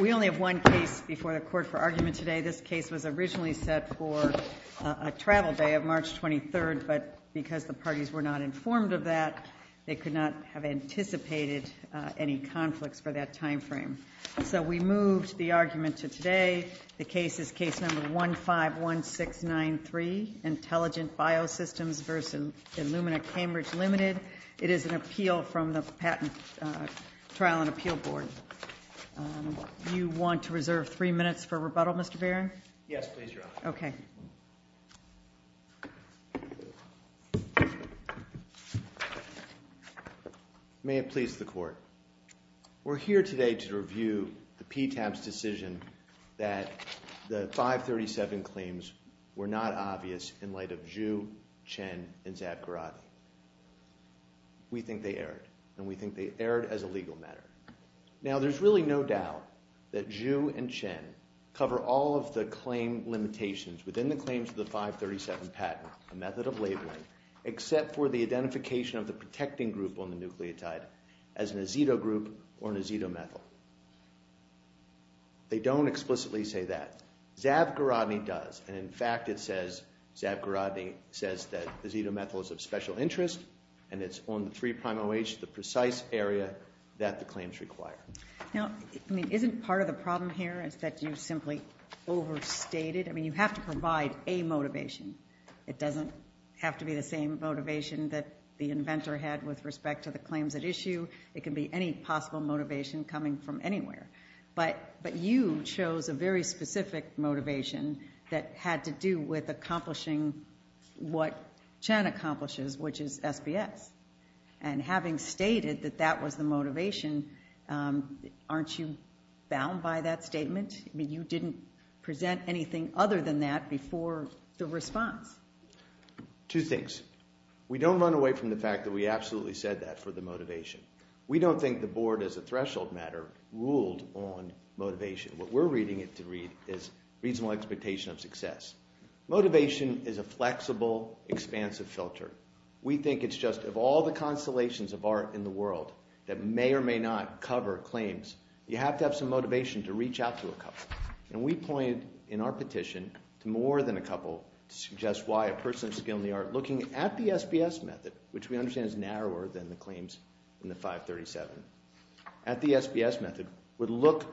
We only have one case before the Court for argument today. This case was originally set for a travel day of March 23rd, but because the parties were not informed of that, they could not have anticipated any conflicts for that timeframe. So we moved the argument to today. The case is Case No. 151693, Intelligent Bio-Systems v. Illumina Cambridge Ltd. It is an appeal from the Patent Trial and Appeal Board. You want to reserve three minutes for rebuttal, Mr. Barron? Yes, please, Your Honor. Okay. May it please the Court. We're here today to review the PTAP's decision that the 537 claims were not obvious in light of Zhu, Chen, and Zabgarati. We think they erred, and we think they erred as a legal matter. Now, there's really no doubt that Zhu and Chen cover all of the claim limitations within the claims of the 537 patent, a method of labeling, except for the identification of the protecting group on the nucleotide as an azeto group or an azetomethyl. They don't explicitly say that. Zabgarati does, and in fact, it says, Zabgarati says that azetomethyl is of special interest and it's on the 3'-OH, the precise area that the claims require. Now, I mean, isn't part of the problem here is that you simply overstated? I mean, you have to provide a motivation. It doesn't have to be the same motivation that the inventor had with respect to the claims at issue. It can be any possible motivation coming from anywhere, but you chose a very specific motivation that had to do with accomplishing what Chen accomplishes, which is SBS. And having stated that that was the motivation, aren't you bound by that statement? I mean, you didn't present anything other than that before the response. Two things. We don't run away from the fact that we absolutely said that for the motivation. We don't think the board, as a threshold matter, ruled on motivation. What we're reading it to read is reasonable expectation of success. Motivation is a flexible, expansive filter. We think it's just of all the constellations of art in the world that may or may not cover claims. You have to have some motivation to reach out to a couple, and we point in our petition to more than a couple to suggest why a person of skill in the art looking at the SBS method, which we understand is narrower than the claims in the 537, at the SBS method would look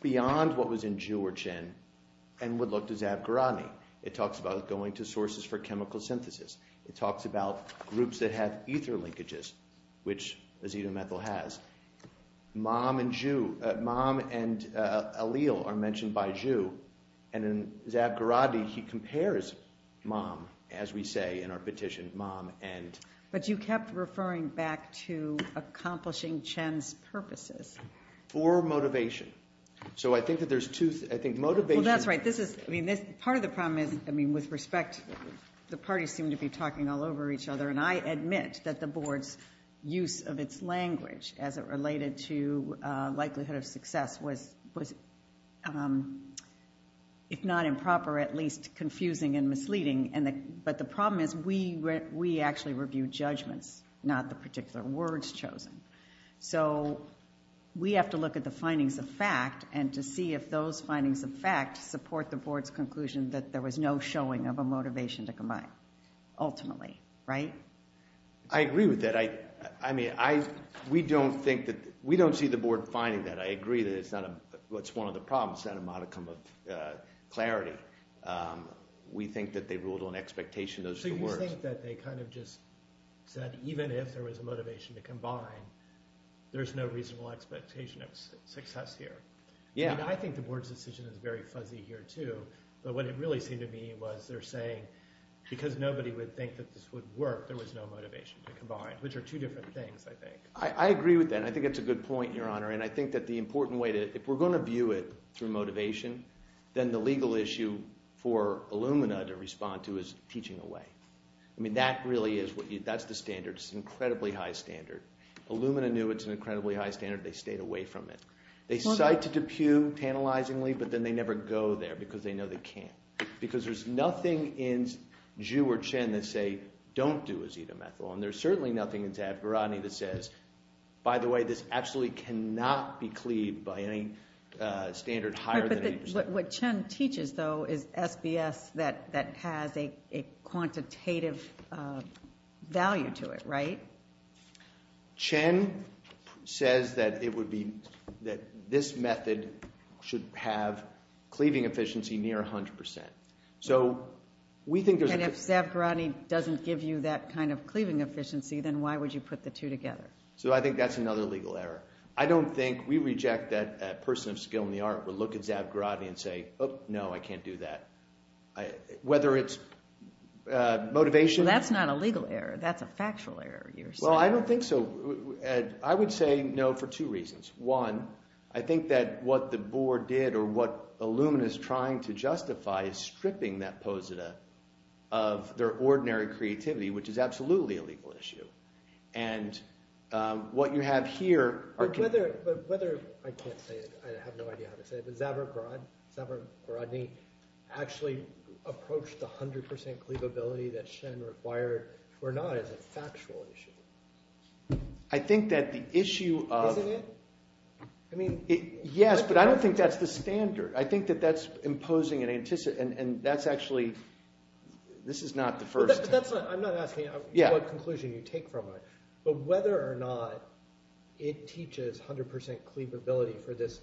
beyond what was in Zhu or Chen and would look to Zab Gharani. It talks about going to sources for chemical synthesis. It talks about groups that have ether linkages, which azetomethyl has. Mom and Zhu, Mom and Aaliyah are mentioned by Zhu, and in Zab Gharani, he compares Mom, as we say in our petition, Mom and... But you kept referring back to accomplishing Chen's purposes. For motivation. So I think that there's two, I think motivation... Well, that's right. This is, I mean, part of the problem is, I mean, with respect, the parties seem to be talking all over each other. And I admit that the board's use of its language as it related to likelihood of success was, if not improper, at least confusing and misleading. But the problem is we actually review judgments, not the particular words chosen. So we have to look at the findings of fact and to see if those findings of fact support the board's conclusion that there was no showing of a motivation to combine, ultimately, right? I agree with that. I mean, I, we don't think that, we don't see the board finding that. I agree that it's not a, what's one of the problems, not a modicum of clarity. We think that they ruled on expectation, those are the words. So you think that they kind of just said, even if there was a motivation to combine, there's no reasonable expectation of success here. Yeah. I mean, I think the board's decision is very fuzzy here, too, but what it really seemed to me was they're saying, because nobody would think that this would work, there was no motivation to combine, which are two different things, I think. I agree with that. And I think that's a good point, Your Honor. And I think that the important way to, if we're going to view it through motivation, then the legal issue for Illumina to respond to is teaching away. I mean, that really is what you, that's the standard, it's an incredibly high standard. Illumina knew it's an incredibly high standard, they stayed away from it. They cite to DePue tantalizingly, but then they never go there, because they know they can't. Because there's nothing in Zhu or Chen that say, don't do azetamethyl, and there's certainly nothing in Zadgarani that says, by the way, this absolutely cannot be cleaved by any standard higher than 80%. Right, but what Chen teaches, though, is SBS that has a quantitative value to it, right? So Chen says that it would be, that this method should have cleaving efficiency near 100%. So we think there's a- And if Zadgarani doesn't give you that kind of cleaving efficiency, then why would you put the two together? So I think that's another legal error. I don't think, we reject that a person of skill in the art would look at Zadgarani and say, oh, no, I can't do that. Whether it's motivation- Well, that's not a legal error. That's a factual error, you're saying. Well, I don't think so. I would say no for two reasons. One, I think that what the board did, or what Illumina is trying to justify, is stripping that posita of their ordinary creativity, which is absolutely a legal issue. And what you have here are- But whether, I can't say it, I have no idea how to say it, but Zadgarani actually approached the 100% cleavability that Shen required, or not, as a factual issue. I think that the issue of- Isn't it? I mean- Yes, but I don't think that's the standard. I think that that's imposing an- and that's actually, this is not the first- But that's not, I'm not asking what conclusion you take from it. But whether or not it teaches 100% cleavability for this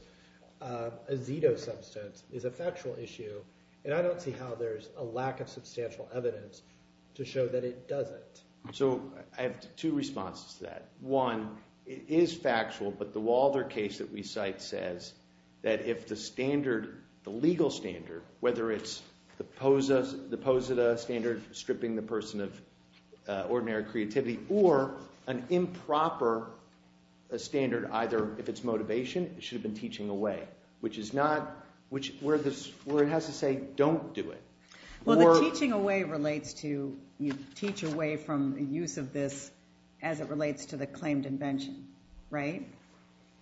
azido substance is a factual issue, and I don't see how there's a lack of substantial evidence to show that it doesn't. So I have two responses to that. One, it is factual, but the Walder case that we cite says that if the standard, the legal standard, whether it's the posita standard stripping the person of ordinary creativity, or an improper standard, either if it's motivation, it should have been teaching away. Which is not, where it has to say, don't do it. Well, the teaching away relates to, you teach away from the use of this as it relates to the claimed invention, right?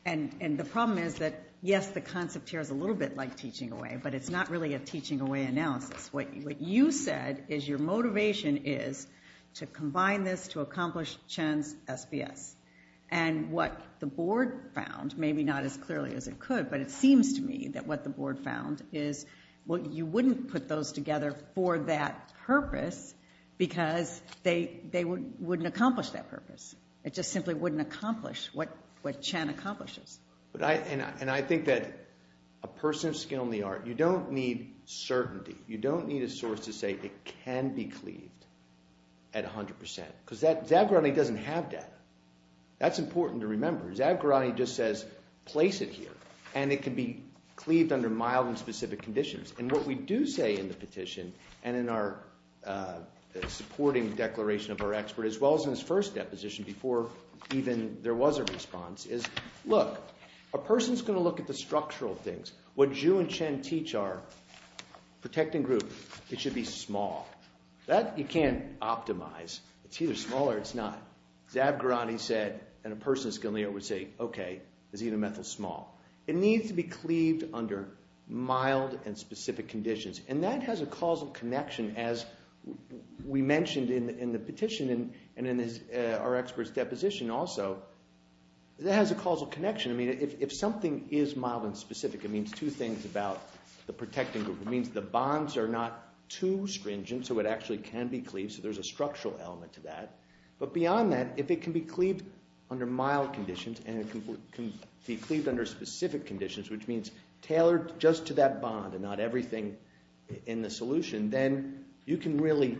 And the problem is that, yes, the concept here is a little bit like teaching away, but it's not really a teaching away analysis. What you said is your motivation is to combine this to accomplish Chen's SBS. And what the board found, maybe not as clearly as it could, but it seems to me that what the board found is, well, you wouldn't put those together for that purpose because they wouldn't accomplish that purpose. It just simply wouldn't accomplish what Chen accomplishes. And I think that a person of skill in the art, you don't need certainty. You don't need a source to say it can be cleaved at 100%. Zavgarani doesn't have that. That's important to remember. Zavgarani just says, place it here, and it can be cleaved under mild and specific conditions. And what we do say in the petition, and in our supporting declaration of our expert, as well as in his first deposition before even there was a response, is, look, a person's going to look at the structural things. What Zhu and Chen teach are protecting group. It should be small. That you can't optimize. It's either small or it's not. Zavgarani said, and a person of skill in the art would say, OK, is either methyl small? It needs to be cleaved under mild and specific conditions. And that has a causal connection, as we mentioned in the petition and in our expert's deposition also, that has a causal connection. I mean, if something is mild and specific, it means two things about the protecting group. It means the bonds are not too stringent, so it actually can be cleaved. So there's a structural element to that. But beyond that, if it can be cleaved under mild conditions and it can be cleaved under specific conditions, which means tailored just to that bond and not everything in the solution, then you can really,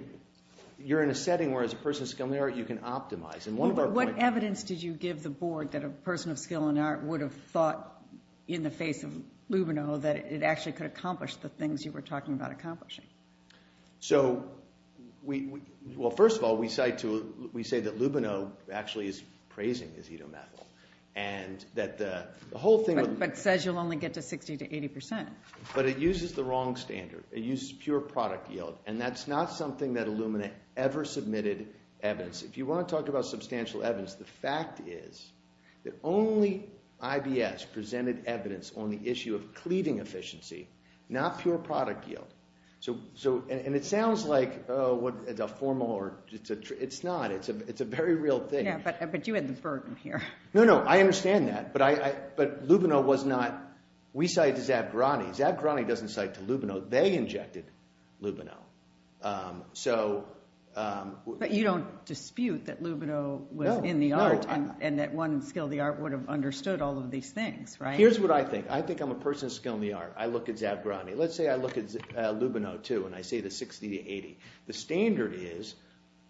you're in a setting where as a person of skill in the art, you can optimize. And one of our points- What evidence did you give the board that a person of skill in the art would have thought in the face of Lubino that it actually could accomplish the things you were talking about accomplishing? So, well, first of all, we say that Lubino actually is praising azetomethyl. And that the whole thing- But says you'll only get to 60 to 80%. But it uses the wrong standard. It uses pure product yield. And that's not something that Illumina ever submitted evidence. If you want to talk about substantial evidence, the fact is that only IBS presented evidence on the issue of cleaving efficiency, not pure product yield. So, and it sounds like, oh, it's a formal or, it's not. It's a very real thing. Yeah, but you had the burden here. No, no, I understand that. But Lubino was not, we cite to Zabgrani. Zabgrani doesn't cite to Lubino. They injected Lubino. So- But you don't dispute that Lubino was in the art and that one skill of the art would have understood all of these things, right? Here's what I think. I think I'm a person of skill in the art. I look at Zabgrani. Let's say I look at Lubino, too, and I say the 60 to 80. The standard is,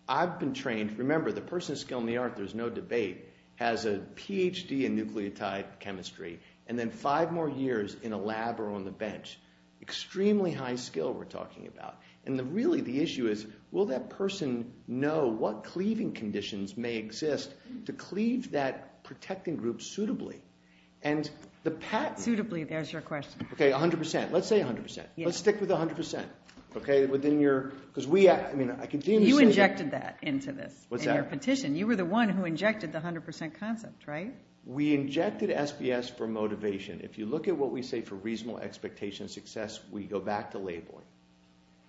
I've been trained. Remember, the person of skill in the art, there's no debate, has a PhD in nucleotide chemistry and then five more years in a lab or on the bench. Extremely high skill we're talking about. And really, the issue is, will that person know what cleaving conditions may exist to cleave that protecting group suitably? And the patent- Suitably, there's your question. Okay, 100%. Let's say 100%. Let's stick with 100%, okay, within your- Because we, I mean, I continue to say- You injected that into this, in your petition. You were the one who injected the 100% concept, right? We injected SBS for motivation. If you look at what we say for reasonable expectation of success, we go back to labeling.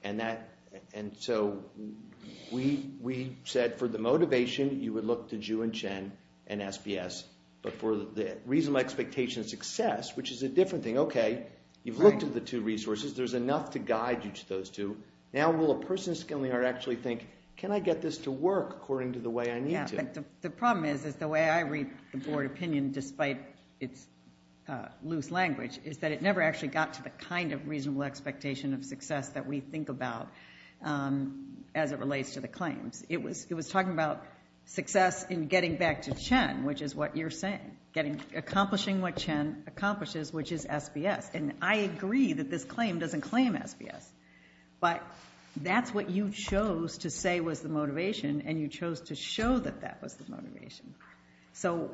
And that, and so we said for the motivation, you would look to Zhu and Chen and SBS. But for the reasonable expectation of success, which is a different thing, okay, you've looked at the two resources, there's enough to guide you to those two. Now, will a person skilling or actually think, can I get this to work according to the way I need to? The problem is, is the way I read the board opinion, despite its loose language, is that it never actually got to the kind of reasonable expectation of success that we think about as it relates to the claims. It was talking about success in getting back to Chen, which is what you're saying, getting, accomplishing what Chen accomplishes, which is SBS. And I agree that this claim doesn't claim SBS, but that's what you chose to say was the motivation, and you chose to show that that was the motivation. So,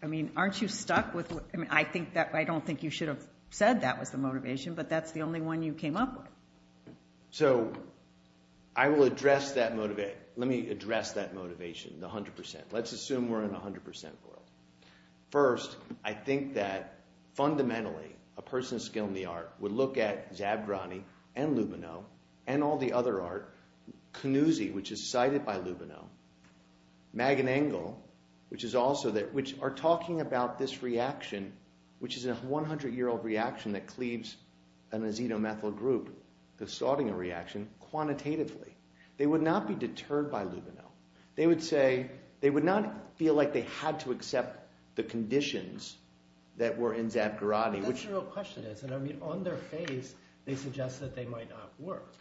I mean, aren't you stuck with, I mean, I think that, I don't think you should have said that was the motivation, but that's the only one you came up with. So, I will address that, let me address that motivation, the 100%. Let's assume we're in the 100% world. First, I think that, fundamentally, a person of skill in the art would look at Zabgrani and Lubino and all the other art, Canuzzi, which is cited by Lubino, Magen Engel, which is also, which are talking about this reaction, which is a 100-year-old reaction that cleaves an azetomethyl group, the Sautinger reaction, quantitatively. They would not be deterred by Lubino. They would say, they would not feel like they had to accept the conditions that were in Zabgrani. That's the real question is, and I mean, on their face, they suggest that they might not work.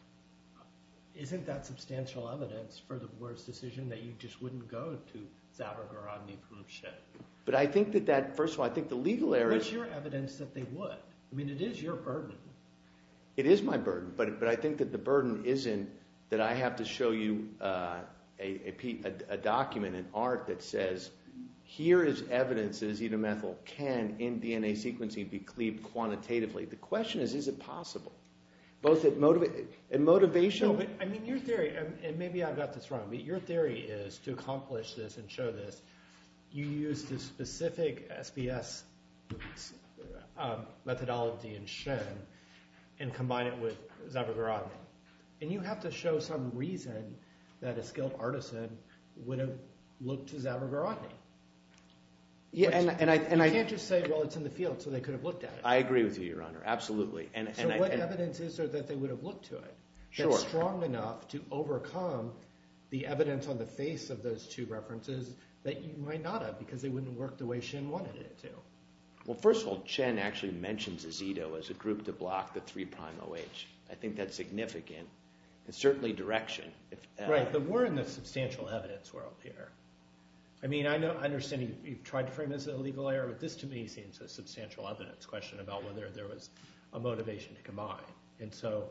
Isn't that substantial evidence for the board's decision that you just wouldn't go to Zabgrani who should? But I think that that, first of all, I think the legal area— What's your evidence that they would? I mean, it is your burden. It is my burden, but I think that the burden isn't that I have to show you a document, an art that says, here is evidence that azetomethyl can, in DNA sequencing, be cleaved quantitatively. The question is, is it possible? Both in motivation— No, but I mean, your theory, and maybe I've got this wrong, but your theory is, to accomplish this and show this, you use the specific SBS methodology in Shen and combine it with Zabgrani. And you have to show some reason that a skilled artisan would have looked to Zabgrani. You can't just say, well, it's in the field, so they could have looked at it. I agree with you, Your Honor. Absolutely. So what evidence is there that they would have looked to it that's strong enough to overcome the evidence on the face of those two references that you might not have because they wouldn't have worked the way Shen wanted it to? Well, first of all, Chen actually mentions AZETO as a group to block the 3'OH. I think that's significant, and certainly direction. Right, but we're in the substantial evidence world here. I mean, I understand you've tried to frame this as a legal error, but this to me seems a substantial evidence question about whether there was a motivation to combine. And so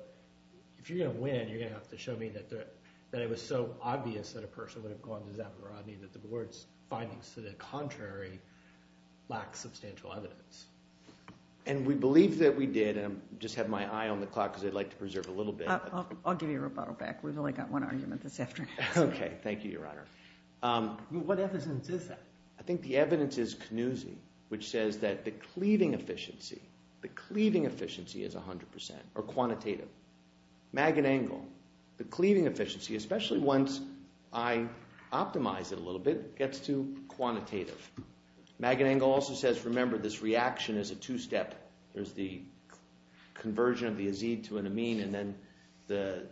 if you're going to win, you're going to have to show me that it was so obvious that a person would have gone to Zabgrani that the board's findings to the contrary lack substantial evidence. And we believe that we did. And I just had my eye on the clock because I'd like to preserve a little bit. I'll give you a rebuttal back. We've only got one argument this afternoon. OK. Thank you, Your Honor. What evidence is that? I think the evidence is Knuze, which says that the cleaving efficiency, the cleaving efficiency is 100% or quantitative. Magan Engel, the cleaving efficiency, especially once I optimize it a little bit, gets to quantitative. Magan Engel also says, remember, this reaction is a two-step. There's the conversion of the azide to an amine, and then the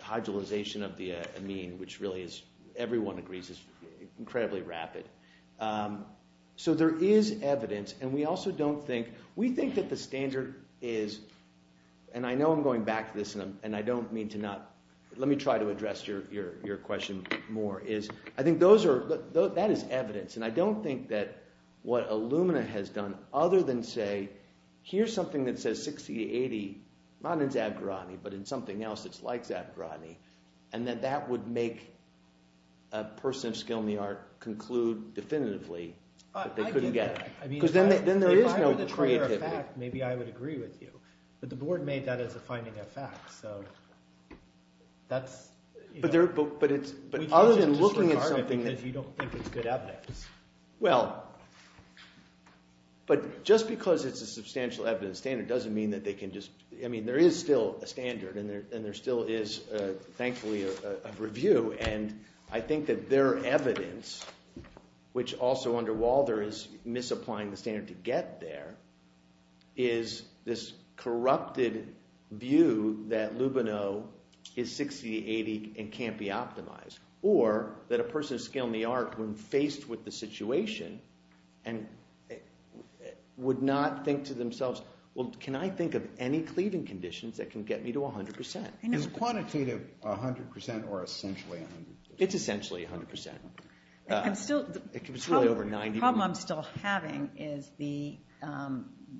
hydrolyzation of the amine, which really is, everyone agrees, is incredibly rapid. So there is evidence. And we also don't think, we think that the standard is, and I know I'm going back to this, and I don't mean to not, let me try to address your question more, is I think those are, that is evidence. And I don't think that what Illumina has done, other than say, here's something that says 60 to 80, not in Zabgarotney, but in something else that's like Zabgarotney, and that that would make a person of skill in the art conclude definitively that they couldn't get. Because then there is no creativity. Maybe I would agree with you. But the board made that as a finding of fact. So that's, you know, we can't just disregard it because you don't think it's good evidence. Well, but just because it's a substantial evidence standard doesn't mean that they can just, I mean, there is still a standard, and there still is, thankfully, a review. And I think that their evidence, which also under Walder is misapplying the standard to get there, is this corrupted view that Lubino is 60 to 80 and can't be optimized. Or that a person of skill in the art, when faced with the situation, and would not think to themselves, well, can I think of any cleaving conditions that can get me to 100%? Is quantitative 100% or essentially 100%? It's essentially 100%. It's really over 90. The problem I'm still having is the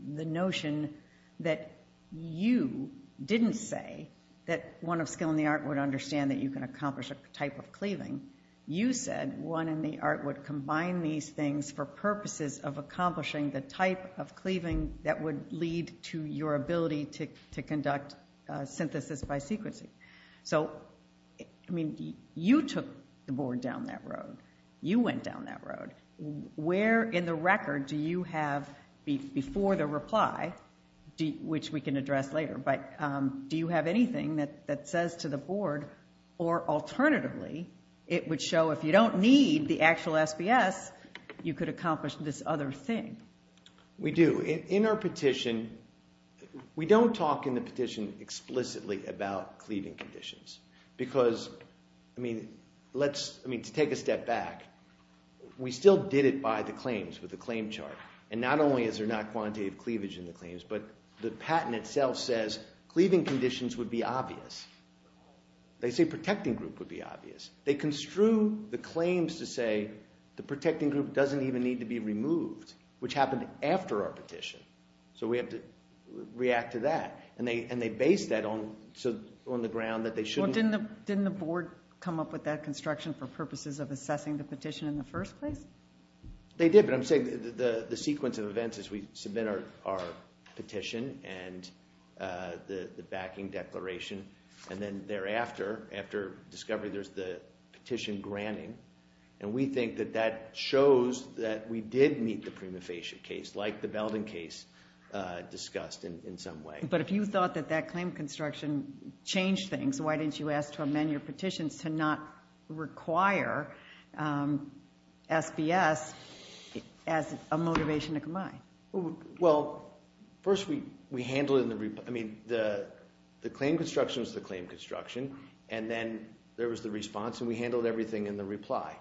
notion that you didn't say that one of skill in type of cleaving, you said one in the art would combine these things for purposes of accomplishing the type of cleaving that would lead to your ability to conduct synthesis by sequencing. So, I mean, you took the board down that road. You went down that road. Where in the record do you have, before the reply, which we can address later, but do you have anything that says to the board, or alternatively, it would show if you don't need the actual SBS, you could accomplish this other thing? We do. In our petition, we don't talk in the petition explicitly about cleaving conditions. Because, I mean, to take a step back, we still did it by the claims, with the claim chart. And not only is there not quantitative cleavage in the claims, but the patent itself says cleaving conditions would be obvious. They say protecting group would be obvious. They construe the claims to say the protecting group doesn't even need to be removed, which happened after our petition. So we have to react to that. And they base that on the ground that they shouldn't. Well, didn't the board come up with that construction for purposes of assessing the petition in the first place? They did. The sequence of events is we submit our petition and the backing declaration. And then thereafter, after discovery, there's the petition granting. And we think that that shows that we did meet the prima facie case, like the Belden case discussed in some way. But if you thought that that claim construction changed things, why didn't you ask to amend your petitions to not require SBS as a motivation to combine? Well, first, we handled it in the reply. I mean, the claim construction was the claim construction. And then there was the response. And we handled everything in the reply.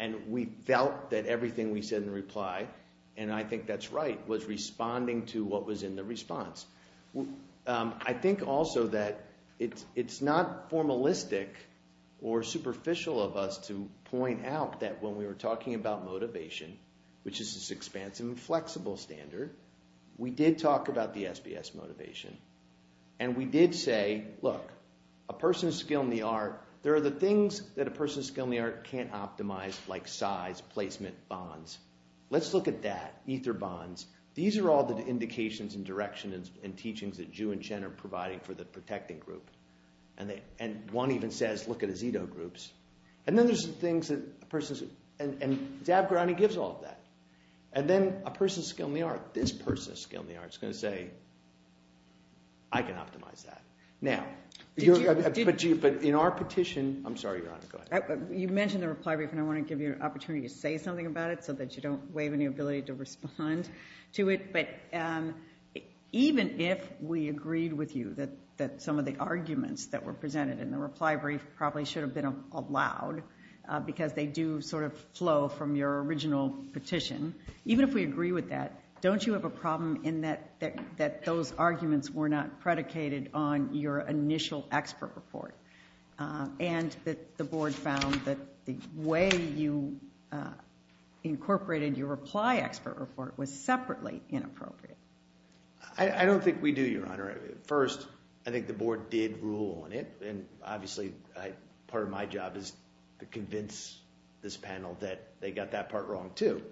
And we felt that everything we said in reply, and I think that's right, was responding to what was in the response. Well, I think also that it's not formalistic or superficial of us to point out that when we were talking about motivation, which is this expansive and flexible standard, we did talk about the SBS motivation. And we did say, look, a person's skill in the art, there are the things that a person's skill in the art can't optimize, like size, placement, bonds. Let's look at that, ether bonds. These are all the indications and directions and teachings that Ju and Chen are providing for the protecting group. And one even says, look at Isido groups. And then there's things that a person's, and Dabrani gives all of that. And then a person's skill in the art, this person's skill in the art is going to say, I can optimize that. Now, but in our petition, I'm sorry, Your Honor, go ahead. You mentioned the reply brief, and I want to give you an opportunity to say something about it so that you don't waive any ability to respond to it. But even if we agreed with you that some of the arguments that were presented in the reply brief probably should have been allowed, because they do sort of flow from your original petition. Even if we agree with that, don't you have a problem in that those arguments were not predicated on your initial expert report? And that the Board found that the way you incorporated your reply expert report was separately inappropriate? I don't think we do, Your Honor. First, I think the Board did rule on it, and obviously part of my job is to convince this panel that they got that part wrong too.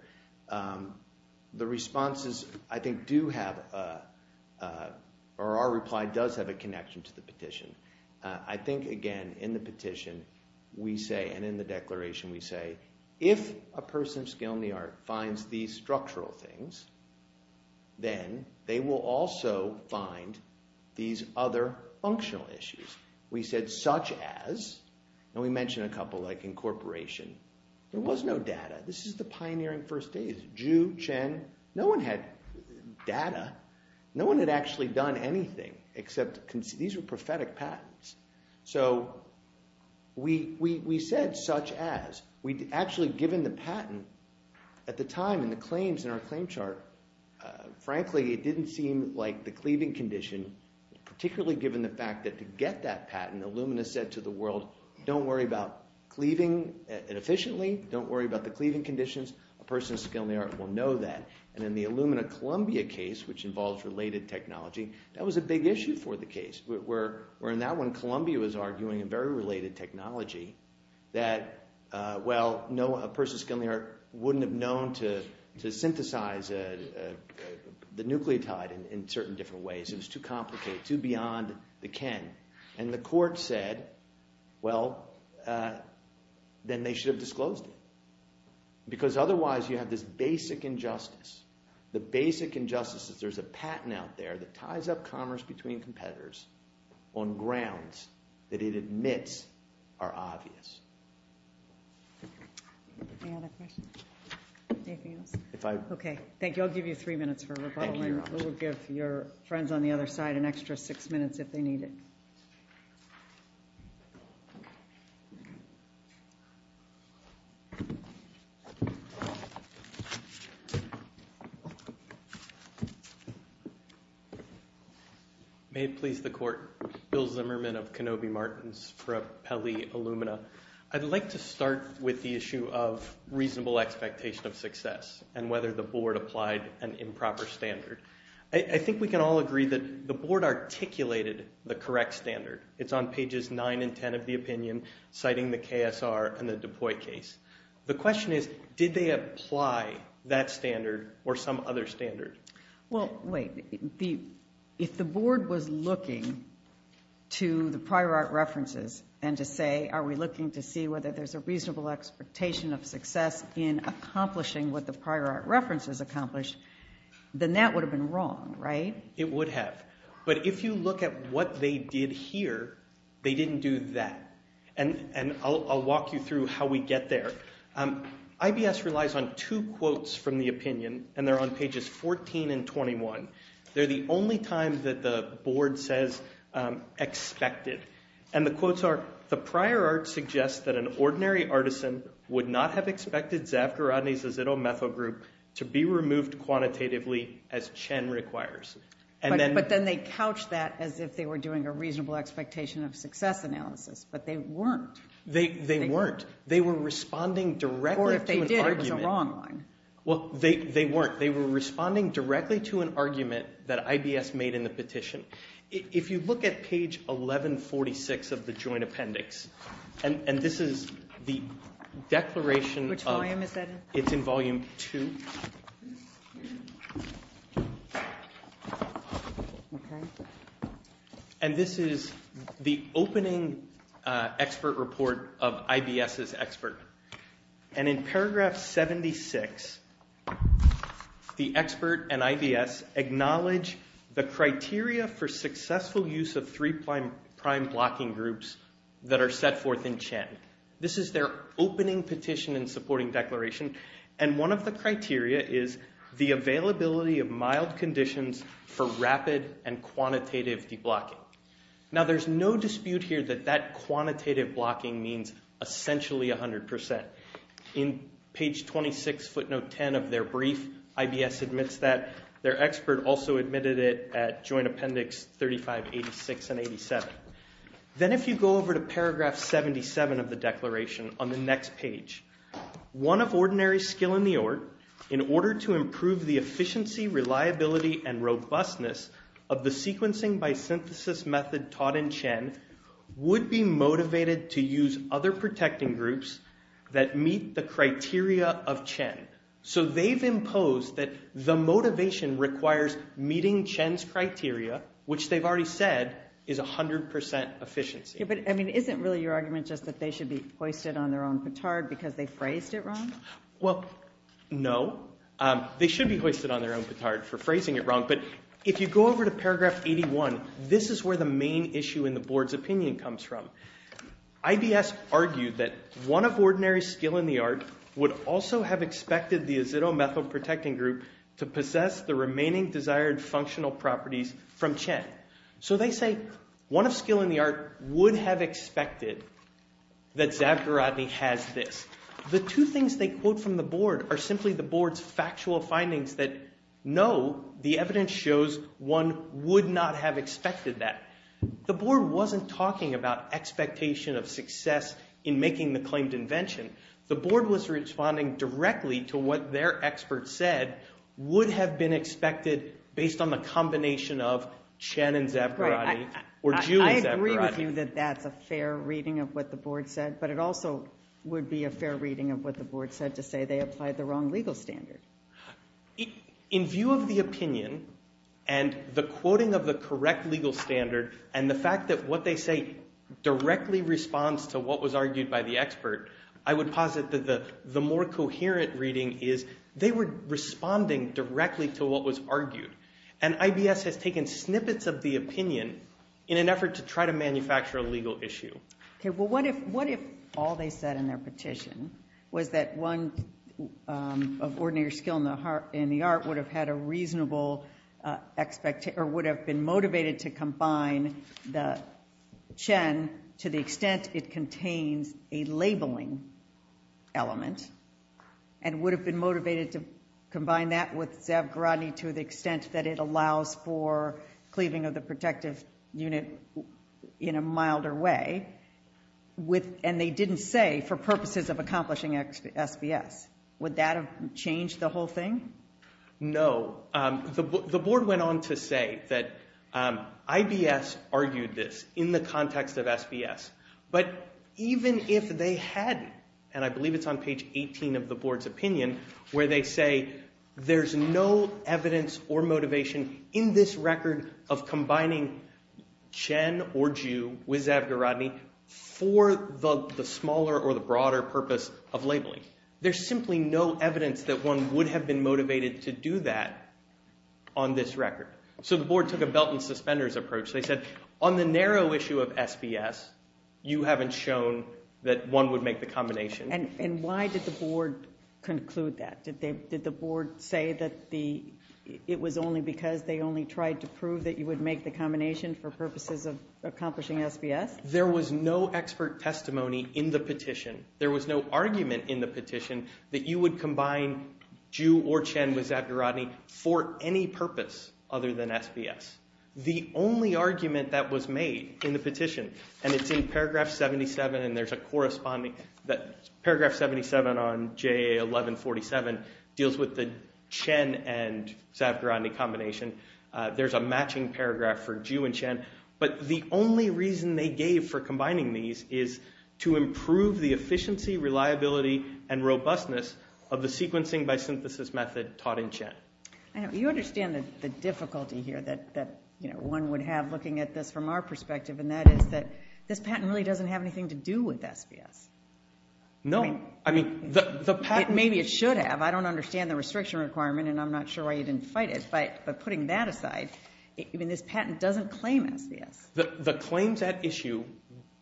The responses, I think, do have a, or our reply does have a connection to the petition. I think, again, in the petition, we say, and in the declaration, we say, if a person of skill in the art finds these structural things, then they will also find these other functional issues. We said, such as, and we mentioned a couple, like incorporation. There was no data. This is the pioneering first days. Zhu, Chen, no one had data. No one had actually done anything except, these were prophetic patents. So we said, such as. We'd actually given the patent at the time in the claims, in our claim chart. Frankly, it didn't seem like the cleaving condition, particularly given the fact that to get that patent, Illumina said to the world, don't worry about cleaving inefficiently. Don't worry about the cleaving conditions. A person of skill in the art will know that. And in the Illumina Columbia case, which involves related technology, that was a big issue for the case, where in that one, Columbia was arguing a very related technology that, well, a person of skill in the art wouldn't have known to synthesize the nucleotide in certain different ways. It was too complicated, too beyond the ken. And the court said, well, then they should have disclosed it. Because otherwise, you have this basic injustice. The basic injustice is there's a patent out there that ties up commerce between competitors on grounds that it admits are obvious. Any other questions? OK. Thank you. I'll give you three minutes for rebuttal, and we'll give your friends on the other side an extra six minutes if they need it. OK. May it please the court. Bill Zimmerman of Kenobi Martins for Pelley Illumina. I'd like to start with the issue of reasonable expectation of success and whether the board applied an improper standard. I think we can all agree that the board articulated the correct standard. It's on pages 9 and 10 of the opinion, citing the KSR and the DuPuy case. The question is, did they apply that standard or some other standard? Well, wait. If the board was looking to the prior art references and to say, are we looking to see whether there's a reasonable expectation of success in accomplishing what the prior art references accomplished, then that would have been wrong, right? It would have. But if you look at what they did here, they didn't do that. And I'll walk you through how we get there. IBS relies on two quotes from the opinion, and they're on pages 14 and 21. They're the only time that the board says expected. And the quotes are, the prior art suggests that an ordinary artisan would not have expected Zafgar Rodney's azitometho group to be removed quantitatively as Chen requires. But then they couched that as if they were doing a reasonable expectation of success analysis, but they weren't. They weren't. They were responding directly to an argument. Or if they did, it was a wrong one. Well, they weren't. They were responding directly to an argument that IBS made in the petition. If you look at page 1146 of the joint appendix, and this is the declaration of- Which volume is that in? It's in volume two. Okay. And this is the opening expert report of IBS's expert. And in paragraph 76, the expert and IBS acknowledge the criteria for successful use of three prime blocking groups that are set forth in Chen. This is their opening petition and supporting declaration. And one of the criteria is the availability of mild conditions for rapid and quantitative deblocking. Now, there's no dispute here that that quantitative blocking means essentially 100%. In page 26 footnote 10 of their brief, IBS admits that their expert also admitted it at joint appendix 3586 and 87. Then if you go over to paragraph 77 of the declaration on the next page, one of the criteria of Chen, so they've imposed that the motivation requires meeting Chen's criteria, which they've already said is 100% efficiency. Yeah, but I mean, isn't really your argument just that they should be hoisted on their own petard because they phrased it wrong? Well, no. They should be hoisted on their own petard for phrasing it wrong. But if you go over to paragraph 81, this is where the main issue in the board's opinion comes from. IBS argued that one of ordinary skill in the art would also have expected the azido-methyl protecting group to possess the remaining desired functional properties from Chen. So they say one of skill in the art would have expected that Zavgarodny has this. The two things they quote from the board are simply the board's factual findings that know the evidence shows one would not have expected that. The board wasn't talking about expectation of success in making the claimed invention. The board was responding directly to what their expert said would have been expected based on the combination of Chen and Zavgarodny or Jun and Zavgarodny. I agree with you that that's a fair reading of what the board said, but it also would be a fair reading of what the board said to say they applied the wrong legal standard. In view of the opinion and the quoting of the correct legal standard and the fact that what they say directly responds to what was argued by the expert, I would posit that the more coherent reading is they were responding directly to what was argued. And IBS has taken snippets of the opinion in an effort to try to manufacture a legal issue. Okay. Well, what if all they said in their petition was that one of ordinary skill in the art would have had a reasonable or would have been motivated to combine the Chen to the extent it contains a labeling element and would have been motivated to combine that with Zavgarodny to the extent that it allows for cleaving of the protective unit in a milder way, and they didn't say for purposes of accomplishing SBS. Would that have changed the whole thing? No. The board went on to say that IBS argued this in the context of SBS. But even if they hadn't, and I believe it's on page 18 of the board's opinion, where they say there's no evidence or motivation in this record of combining Chen or Jun with Zavgarodny for the smaller or the broader purpose of labeling, there's simply no evidence that one would have been motivated to do that on this record. So the board took a belt and suspenders approach. They said on the narrow issue of SBS, you haven't shown that one would make the combination. And why did the board conclude that? Did the board say that it was only because they only tried to prove that you would make the combination for purposes of accomplishing SBS? There was no expert testimony in the petition. There was no argument in the petition that you would combine Jun or Chen with Zavgarodny for any purpose other than SBS. The only argument that was made in the petition, and it's in paragraph 77, and there's a corresponding that paragraph 77 on JA 1147 deals with the Chen and Zavgarodny combination. There's a matching paragraph for Jun and Chen. But the only reason they gave for combining these is to improve the efficiency, reliability, and robustness of the sequencing by synthesis method taught in Chen. I know. You understand the difficulty here that one would have looking at this from our perspective, and that is that this patent really doesn't have anything to do with SBS. No. I mean, the patent... Maybe it should have. I don't understand the restriction requirement, and I'm not sure why you didn't fight it. But putting that aside, this patent doesn't claim SBS. The claims at issue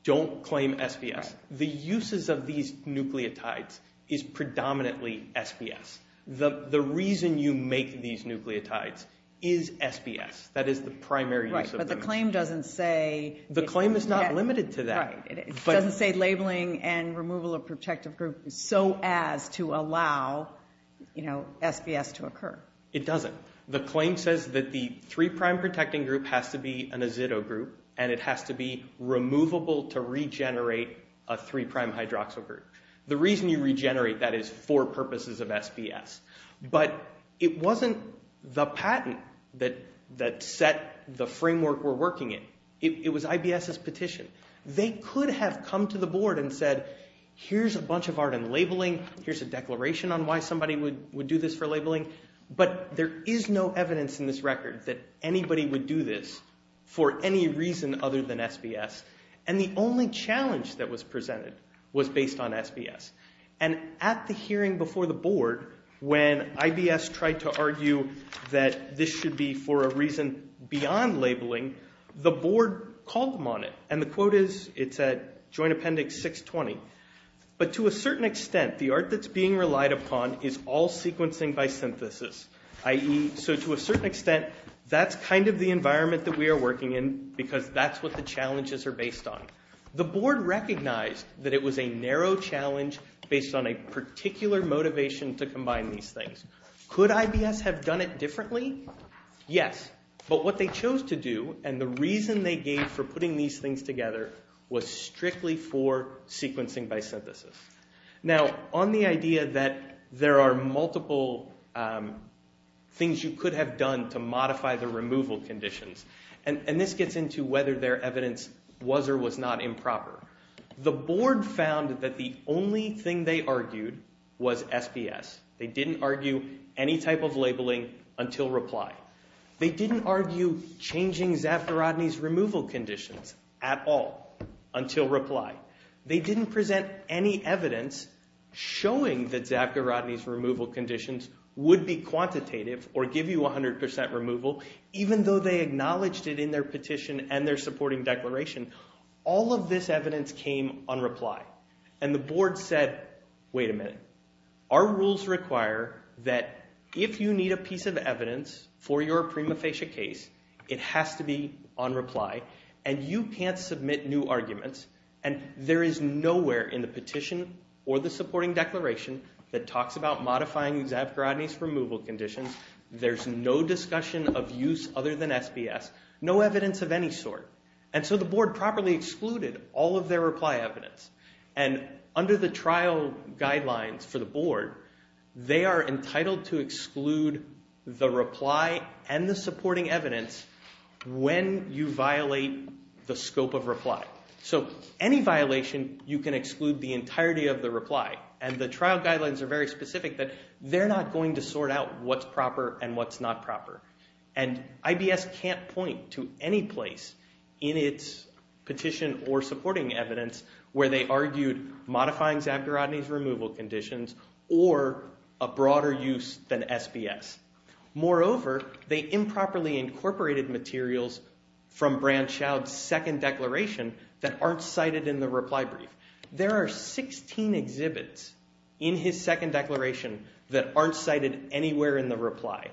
don't claim SBS. The uses of these nucleotides is predominantly SBS. The reason you make these nucleotides is SBS. That is the primary use of them. But the claim doesn't say... The claim is not limited to that. Right. It doesn't say labeling and removal of protective group so as to allow SBS to occur. It doesn't. The claim says that the three-prime protecting group has to be an azido group, and it has to be removable to regenerate a three-prime hydroxyl group. The reason you regenerate that is for purposes of SBS. But it wasn't the patent that set the framework we're working in. It was IBS's petition. They could have come to the board and said, here's a bunch of art and labeling. Here's a declaration on why somebody would do this for labeling. But there is no evidence in this record that anybody would do this for any reason other than SBS. And the only challenge that was presented was based on SBS. And at the hearing before the board, when IBS tried to argue that this should be for a reason beyond labeling, the board called them on it. And the quote is... It's at Joint Appendix 620. But to a certain extent, the art that's being relied upon is all sequencing by synthesis, i.e. so to a certain extent, that's kind of the environment that we are working in because that's what the challenges are based on. The board recognized that it was a narrow challenge based on a particular motivation to combine these things. Could IBS have done it differently? Yes. But what they chose to do and the reason they gave for putting these things together was strictly for sequencing by synthesis. Now, on the idea that there are multiple things you could have done to modify the removal conditions, and this gets into whether their evidence was or was not improper, the board found that the only thing they argued was SBS. They didn't argue any type of labeling until reply. They didn't argue changing Zafirodny's removal conditions at all until reply. They didn't present any evidence showing that Zafirodny's removal conditions would be quantitative or give you 100% removal, even though they acknowledged it in their petition and their supporting declaration. All of this evidence came on reply. And the board said, wait a minute. Our rules require that if you need a piece of evidence for your prima facie case, it has to be on reply. And you can't submit new arguments. And there is nowhere in the petition or the supporting declaration that talks about modifying Zafirodny's removal conditions. There's no discussion of use other than SBS. No evidence of any sort. And so the board properly excluded all of their reply evidence. And under the trial guidelines for the board, they are entitled to exclude the reply and the supporting evidence when you violate the scope of reply. So any violation, you can exclude the entirety of the reply. And the trial guidelines are very specific that they're not going to sort out what's proper and what's not proper. And IBS can't point to any place in its petition or supporting evidence where they argued modifying Zafirodny's removal conditions or a broader use than SBS. Moreover, they improperly incorporated materials from Branschow's second declaration that aren't cited in the reply brief. There are 16 exhibits in his second declaration that aren't cited anywhere in the reply.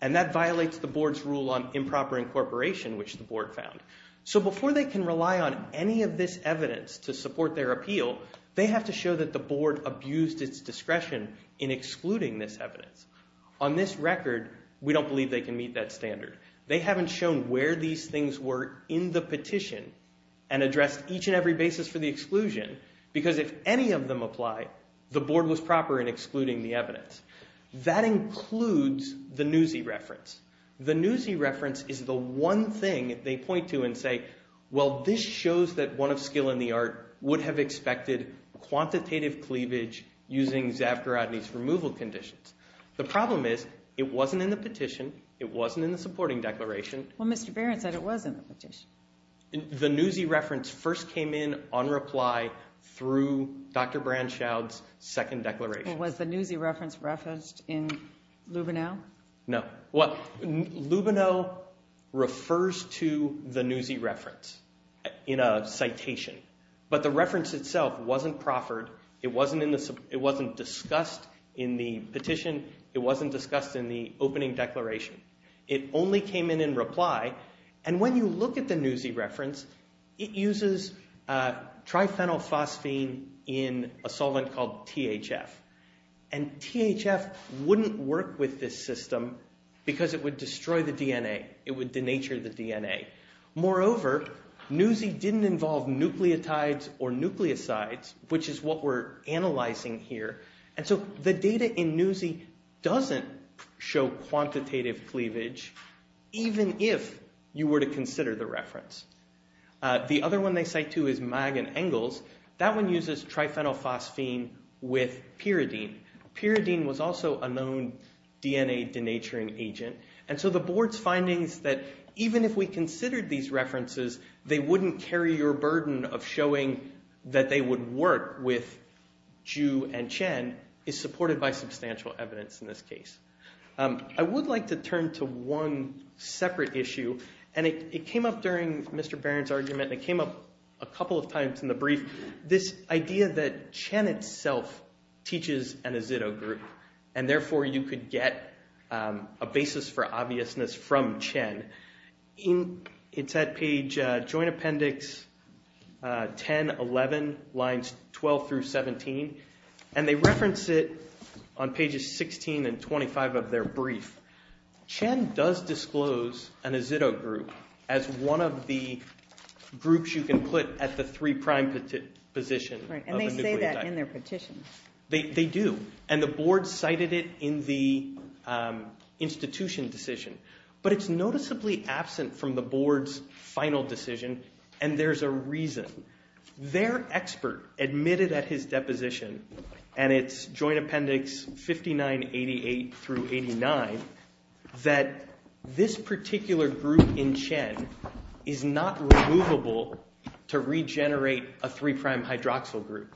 And that violates the board's rule on improper incorporation, which the board found. So before they can rely on any of this evidence to support their appeal, they have to show that the board abused its discretion in excluding this evidence. On this record, we don't believe they can meet that standard. They haven't shown where these things were in the petition and addressed each and every basis for the exclusion. Because if any of them apply, the board was proper in excluding the evidence. That includes the Newsy reference. The Newsy reference is the one thing they point to and say, well, this shows that one of skill in the art would have expected quantitative cleavage using Zafirodny's removal conditions. The problem is it wasn't in the petition. It wasn't in the supporting declaration. Well, Mr. Barron said it was in the petition. The Newsy reference first came in on reply through Dr. Branschow's second declaration. Was the Newsy reference referenced in Lubenow? No. Lubenow refers to the Newsy reference in a citation. But the reference itself wasn't proffered. It wasn't discussed in the petition. It wasn't discussed in the opening declaration. It only came in in reply. And when you look at the Newsy reference, it uses triphenylphosphine in a solvent called THF. And THF wouldn't work with this system because it would destroy the DNA. It would denature the DNA. Moreover, Newsy didn't involve nucleotides or nucleosides, which is what we're analyzing here. And so the data in Newsy doesn't show quantitative cleavage even if you were to consider the reference. The other one they cite too is Mag and Engels. That one uses triphenylphosphine with pyridine. Pyridine was also a known DNA denaturing agent. And so the board's findings that even if we considered these references, they wouldn't carry your burden of showing that they would work with Ju and Chen is supported by substantial evidence in this case. I would like to turn to one separate issue. And it came up during Mr. Barron's argument. It came up a couple of times in the brief. This idea that Chen itself teaches an azido group. And therefore, you could get a basis for obviousness from Chen. It's at page joint appendix 1011, lines 12 through 17. And they reference it on pages 16 and 25 of their brief. Chen does disclose an azido group as one of the groups you can put at the three prime position. Right. And they say that in their petition. They do. And the board cited it in the institution decision. But it's noticeably absent from the board's final decision. And there's a reason. Their expert admitted at his deposition, and it's joint appendix 5988 through 89, that this particular group in Chen is not removable to regenerate a three prime hydroxyl group.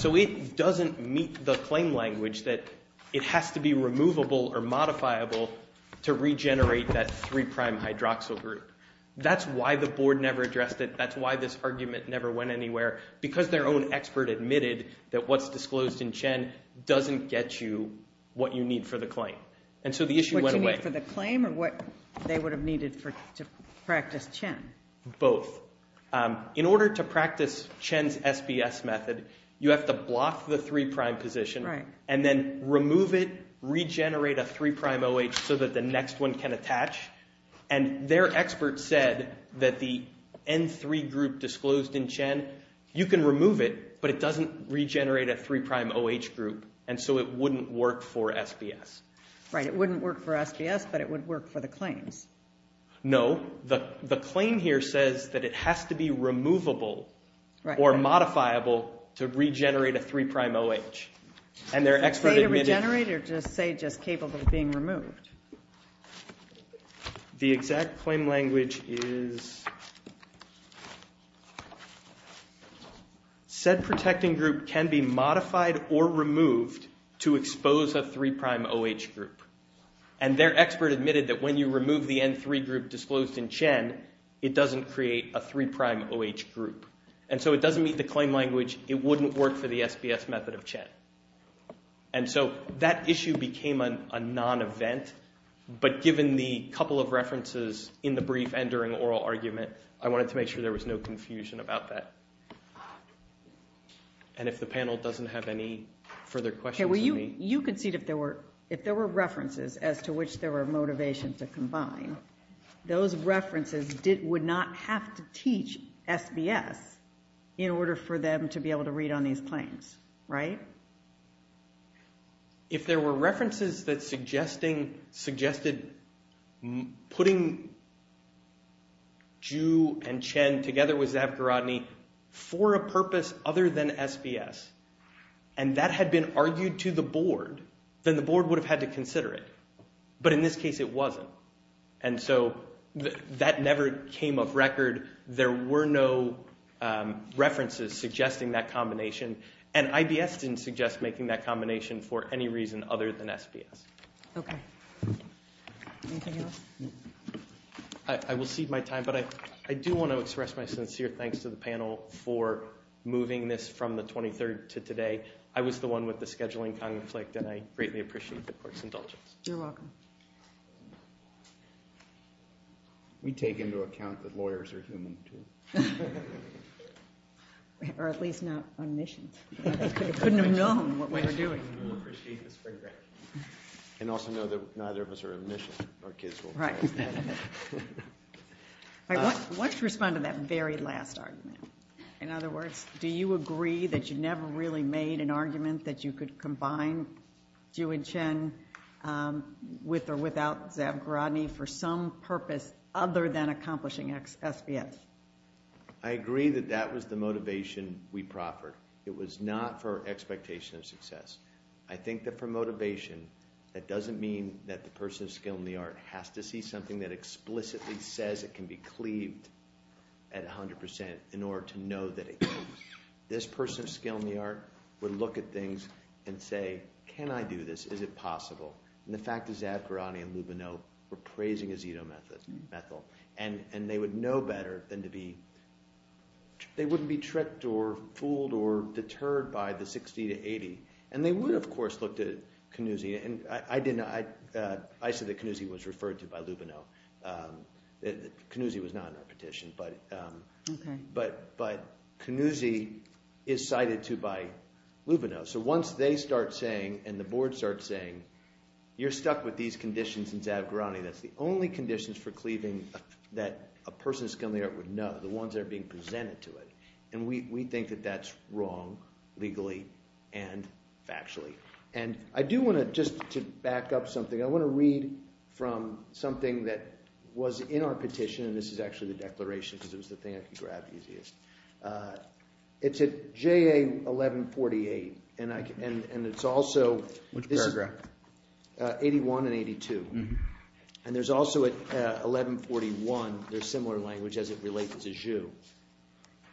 So it doesn't meet the claim language that it has to be removable or modifiable to regenerate that three prime hydroxyl group. That's why the board never addressed it. That's why this argument never went anywhere. Because their own expert admitted that what's disclosed in Chen doesn't get you what you need for the claim. And so the issue went away. What you need for the claim, or what they would have needed to practice Chen? Both. In order to practice Chen's SBS method, you have to block the three prime position. Right. And then remove it, regenerate a three prime OH so that the next one can attach. And their expert said that the N3 group disclosed in Chen, you can remove it, but it doesn't regenerate a three prime OH group. And so it wouldn't work for SBS. Right. It wouldn't work for SBS, but it would work for the claims. No. The claim here says that it has to be removable or modifiable to regenerate a three prime OH. And their expert admitted- Say to regenerate, or just say just capable of being removed? The exact claim language is, said protecting group can be modified or removed to expose a three prime OH group. And their expert admitted that when you remove the N3 group disclosed in Chen, it doesn't create a three prime OH group. And so it doesn't meet the claim language. It wouldn't work for the SBS method of Chen. And so that issue became a non-event. But given the couple of references in the brief and during oral argument, I wanted to make sure there was no confusion about that. And if the panel doesn't have any further questions for me- You concede if there were references as to which there were motivations to combine, those references would not have to teach SBS in order for them to be able to read on these claims, right? If there were references that suggested putting Zhu and Chen together with Zavgarodny, for a purpose other than SBS, and that had been argued to the board, then the board would have had to consider it. But in this case, it wasn't. And so that never came off record. There were no references suggesting that combination. And IBS didn't suggest making that combination for any reason other than SBS. Okay. but I do want to express my sincere thanks to the panel for moving this from the 23rd to today. I was the one with the scheduling conflict and I greatly appreciate the court's indulgence. You're welcome. We take into account that lawyers are human, too. Or at least not on missions. We couldn't have known what we were doing. We appreciate this very greatly. And also know that neither of us are on missions. Our kids will- Right. Why don't you respond to that very last argument? In other words, do you agree that you never really made an argument that you could combine Ju and Chen with or without Zavgaradny for some purpose other than accomplishing SBS? I agree that that was the motivation we proffered. It was not for expectation of success. I think that for motivation, that doesn't mean that the person of skill in the art has to see something that explicitly says it can be cleaved at 100% in order to know that it can. This person of skill in the art would look at things and say, can I do this? Is it possible? And the fact is Zavgaradny and Lubino were praising Isidro Methyl. And they would know better than to be- they wouldn't be tricked or fooled or deterred by the 60 to 80. And they would, of course, look to Canuzzi. And I said that Canuzzi was referred to by Lubino. Canuzzi was not in that petition. But Canuzzi is cited to by Lubino. So once they start saying, and the board starts saying, you're stuck with these conditions in Zavgaradny, that's the only conditions for cleaving that a person of skill in the art would know, the ones that are being presented to it. And we think that that's wrong legally and factually. And I do want to, just to back up something, I want to read from something that was in our petition. And this is actually the declaration, because it was the thing I could grab easiest. It's at JA 1148. And it's also- Which paragraph? 81 and 82. And there's also at 1141, there's similar language as it relates as a Jew.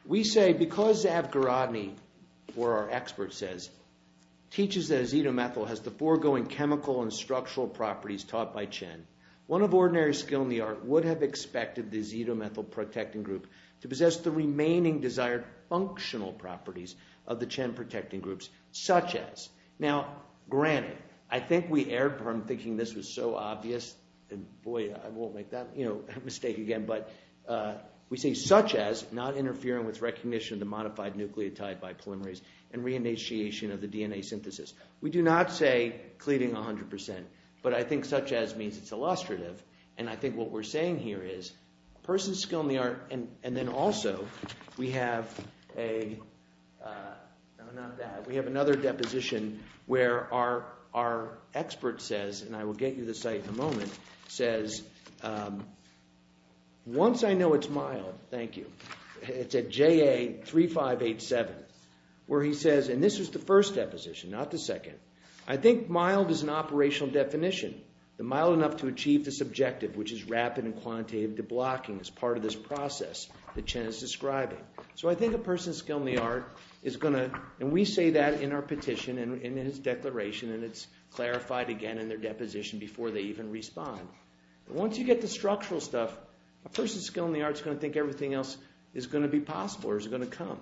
We say, because Zavgaradny, or our expert says, teaches that Isidro Methyl has the foregoing chemical and structural properties taught by Chen, one of ordinary skill in the art would have expected the Isidro Methyl protecting group to possess the remaining desired functional properties of the Chen protecting groups, such as. Now, granted, I think we erred from thinking this was so obvious. And boy, I won't make that mistake again. But we say, such as not interfering with recognition of the modified nucleotide by polymerase and re-initiation of the DNA synthesis. We do not say cleaving 100%. But I think such as means it's illustrative. And I think what we're saying here is, person's skill in the art. And then also, we have a, no, not that. We have another deposition where our expert says, and I will get you the site in a moment, says, once I know it's mild, thank you. It's at JA 3587, where he says, and this was the first deposition, not the second. I think mild is an operational definition. The mild enough to achieve this objective, which is rapid and quantitative deblocking as part of this process that Chen is describing. So I think a person's skill in the art is going to, and we say that in our petition and in his declaration, and it's clarified again in their deposition before they even respond. Once you get the structural stuff, a person's skill in the art's going to think everything else is going to be possible or is going to come.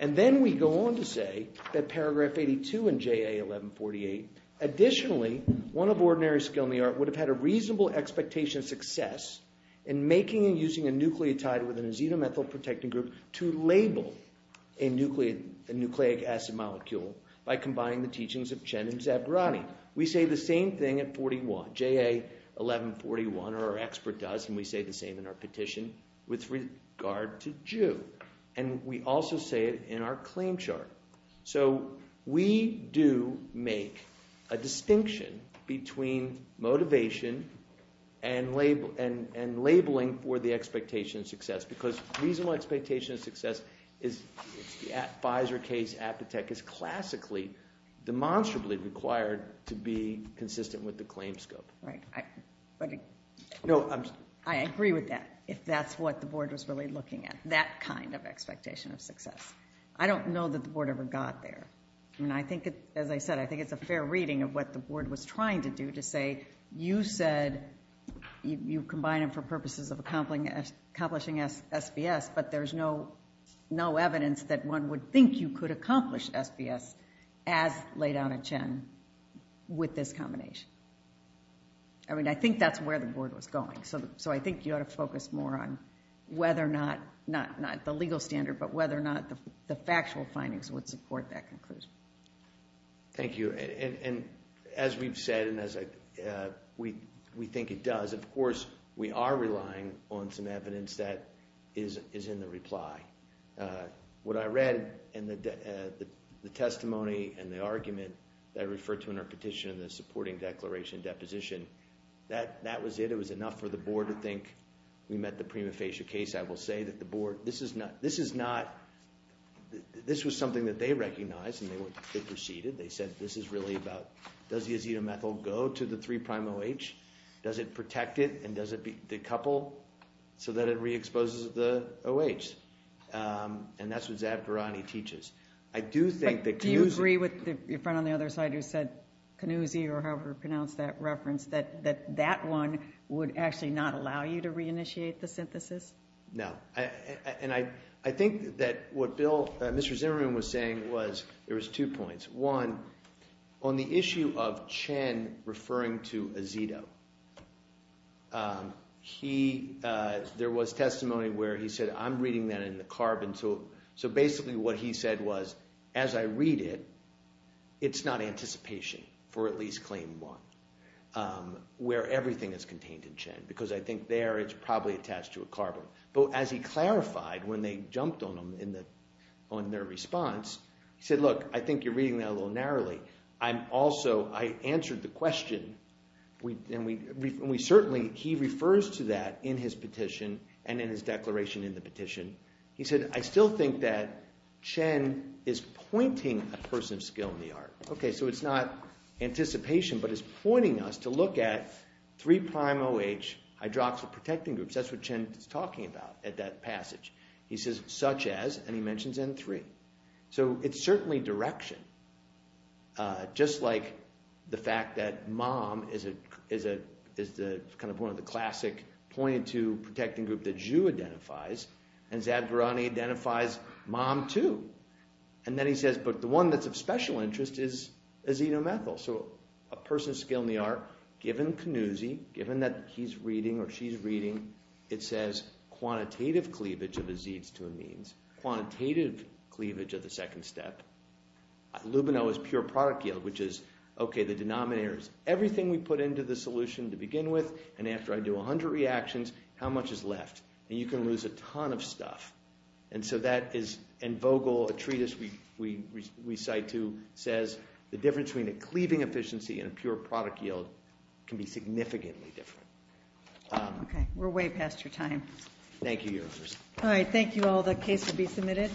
And then we go on to say that paragraph 82 in JA 1148, additionally, one of ordinary skill in the art would have had a reasonable expectation of success in making and using a nucleotide within a xenomethyl protecting group to label a nucleic acid molecule by combining the teachings of Chen and Zabrani. We say the same thing at 41, JA 1141, or our expert does, and we say the same in our petition with regard to Jew. And we also say it in our claim chart. So we do make a distinction between motivation and labeling for the expectation of success because reasonable expectation of success is the Pfizer case, Apitech is classically, demonstrably required to be consistent with the claim scope. Right. I agree with that, if that's what the board was really looking at, that kind of expectation of success. I don't know that the board ever got there. And I think, as I said, I think it's a fair reading of what the board was trying to do to say, you said you combine them for purposes of accomplishing SBS, but there's no evidence that one would think you could accomplish SBS as laid out at Chen with this combination. I mean, I think that's where the board was going. So I think you ought to focus more on whether or not, not the legal standard, but whether or not the factual findings would support that conclusion. Thank you. And as we've said, and as we think it does, of course, we are relying on some evidence that is in the reply. What I read in the testimony and the argument that I referred to in our petition, the supporting declaration deposition, that was it. It was enough for the board to think we met the prima facie case. I will say that the board, this is not, this was something that they recognized and they proceeded. They said, this is really about, does the azetamethyl go to the three prime OH? Does it protect it? And does it decouple? So that it re-exposes the OH. And that's what Zabgarani teaches. I do think that Kanuzi- Do you agree with your friend on the other side who said Kanuzi, or however pronounced that reference, that that one would actually not allow you to reinitiate the synthesis? No, and I think that what Bill, Mr. Zimmerman was saying was, there was two points. One, on the issue of Chen referring to azeto, there was testimony where he said, I'm reading that in the carbon. So basically what he said was, as I read it, it's not anticipation for at least claim one, where everything is contained in Chen. Because I think there, it's probably attached to a carbon. But as he clarified when they jumped on them in the, on their response, he said, look, I think you're reading that a little narrowly. I'm also, I answered the question. We, and we certainly, he refers to that in his petition and in his declaration in the petition. He said, I still think that Chen is pointing a person of skill in the art. Okay, so it's not anticipation, but it's pointing us to look at three prime OH hydroxyl protecting groups. That's what Chen is talking about at that passage. He says, such as, and he mentions in three. So it's certainly direction. Just like the fact that MOM is the kind of one of the classic pointed to protecting group that Zhu identifies. And Zadgarani identifies MOM too. And then he says, but the one that's of special interest is azetomethyl. So a person of skill in the art, given Kanuzi, given that he's reading or she's reading, it says quantitative cleavage of azetes to amines. Quantitative cleavage of the second step. Lubino is pure product yield, which is, okay, the denominator is everything we put into the solution to begin with. And after I do 100 reactions, how much is left? And you can lose a ton of stuff. And so that is, and Vogel, a treatise we recite to, says the difference between a cleaving efficiency and a pure product yield can be significantly different. Okay, we're way past your time. Thank you, Your Honors. All right. Thank you all. The case will be submitted.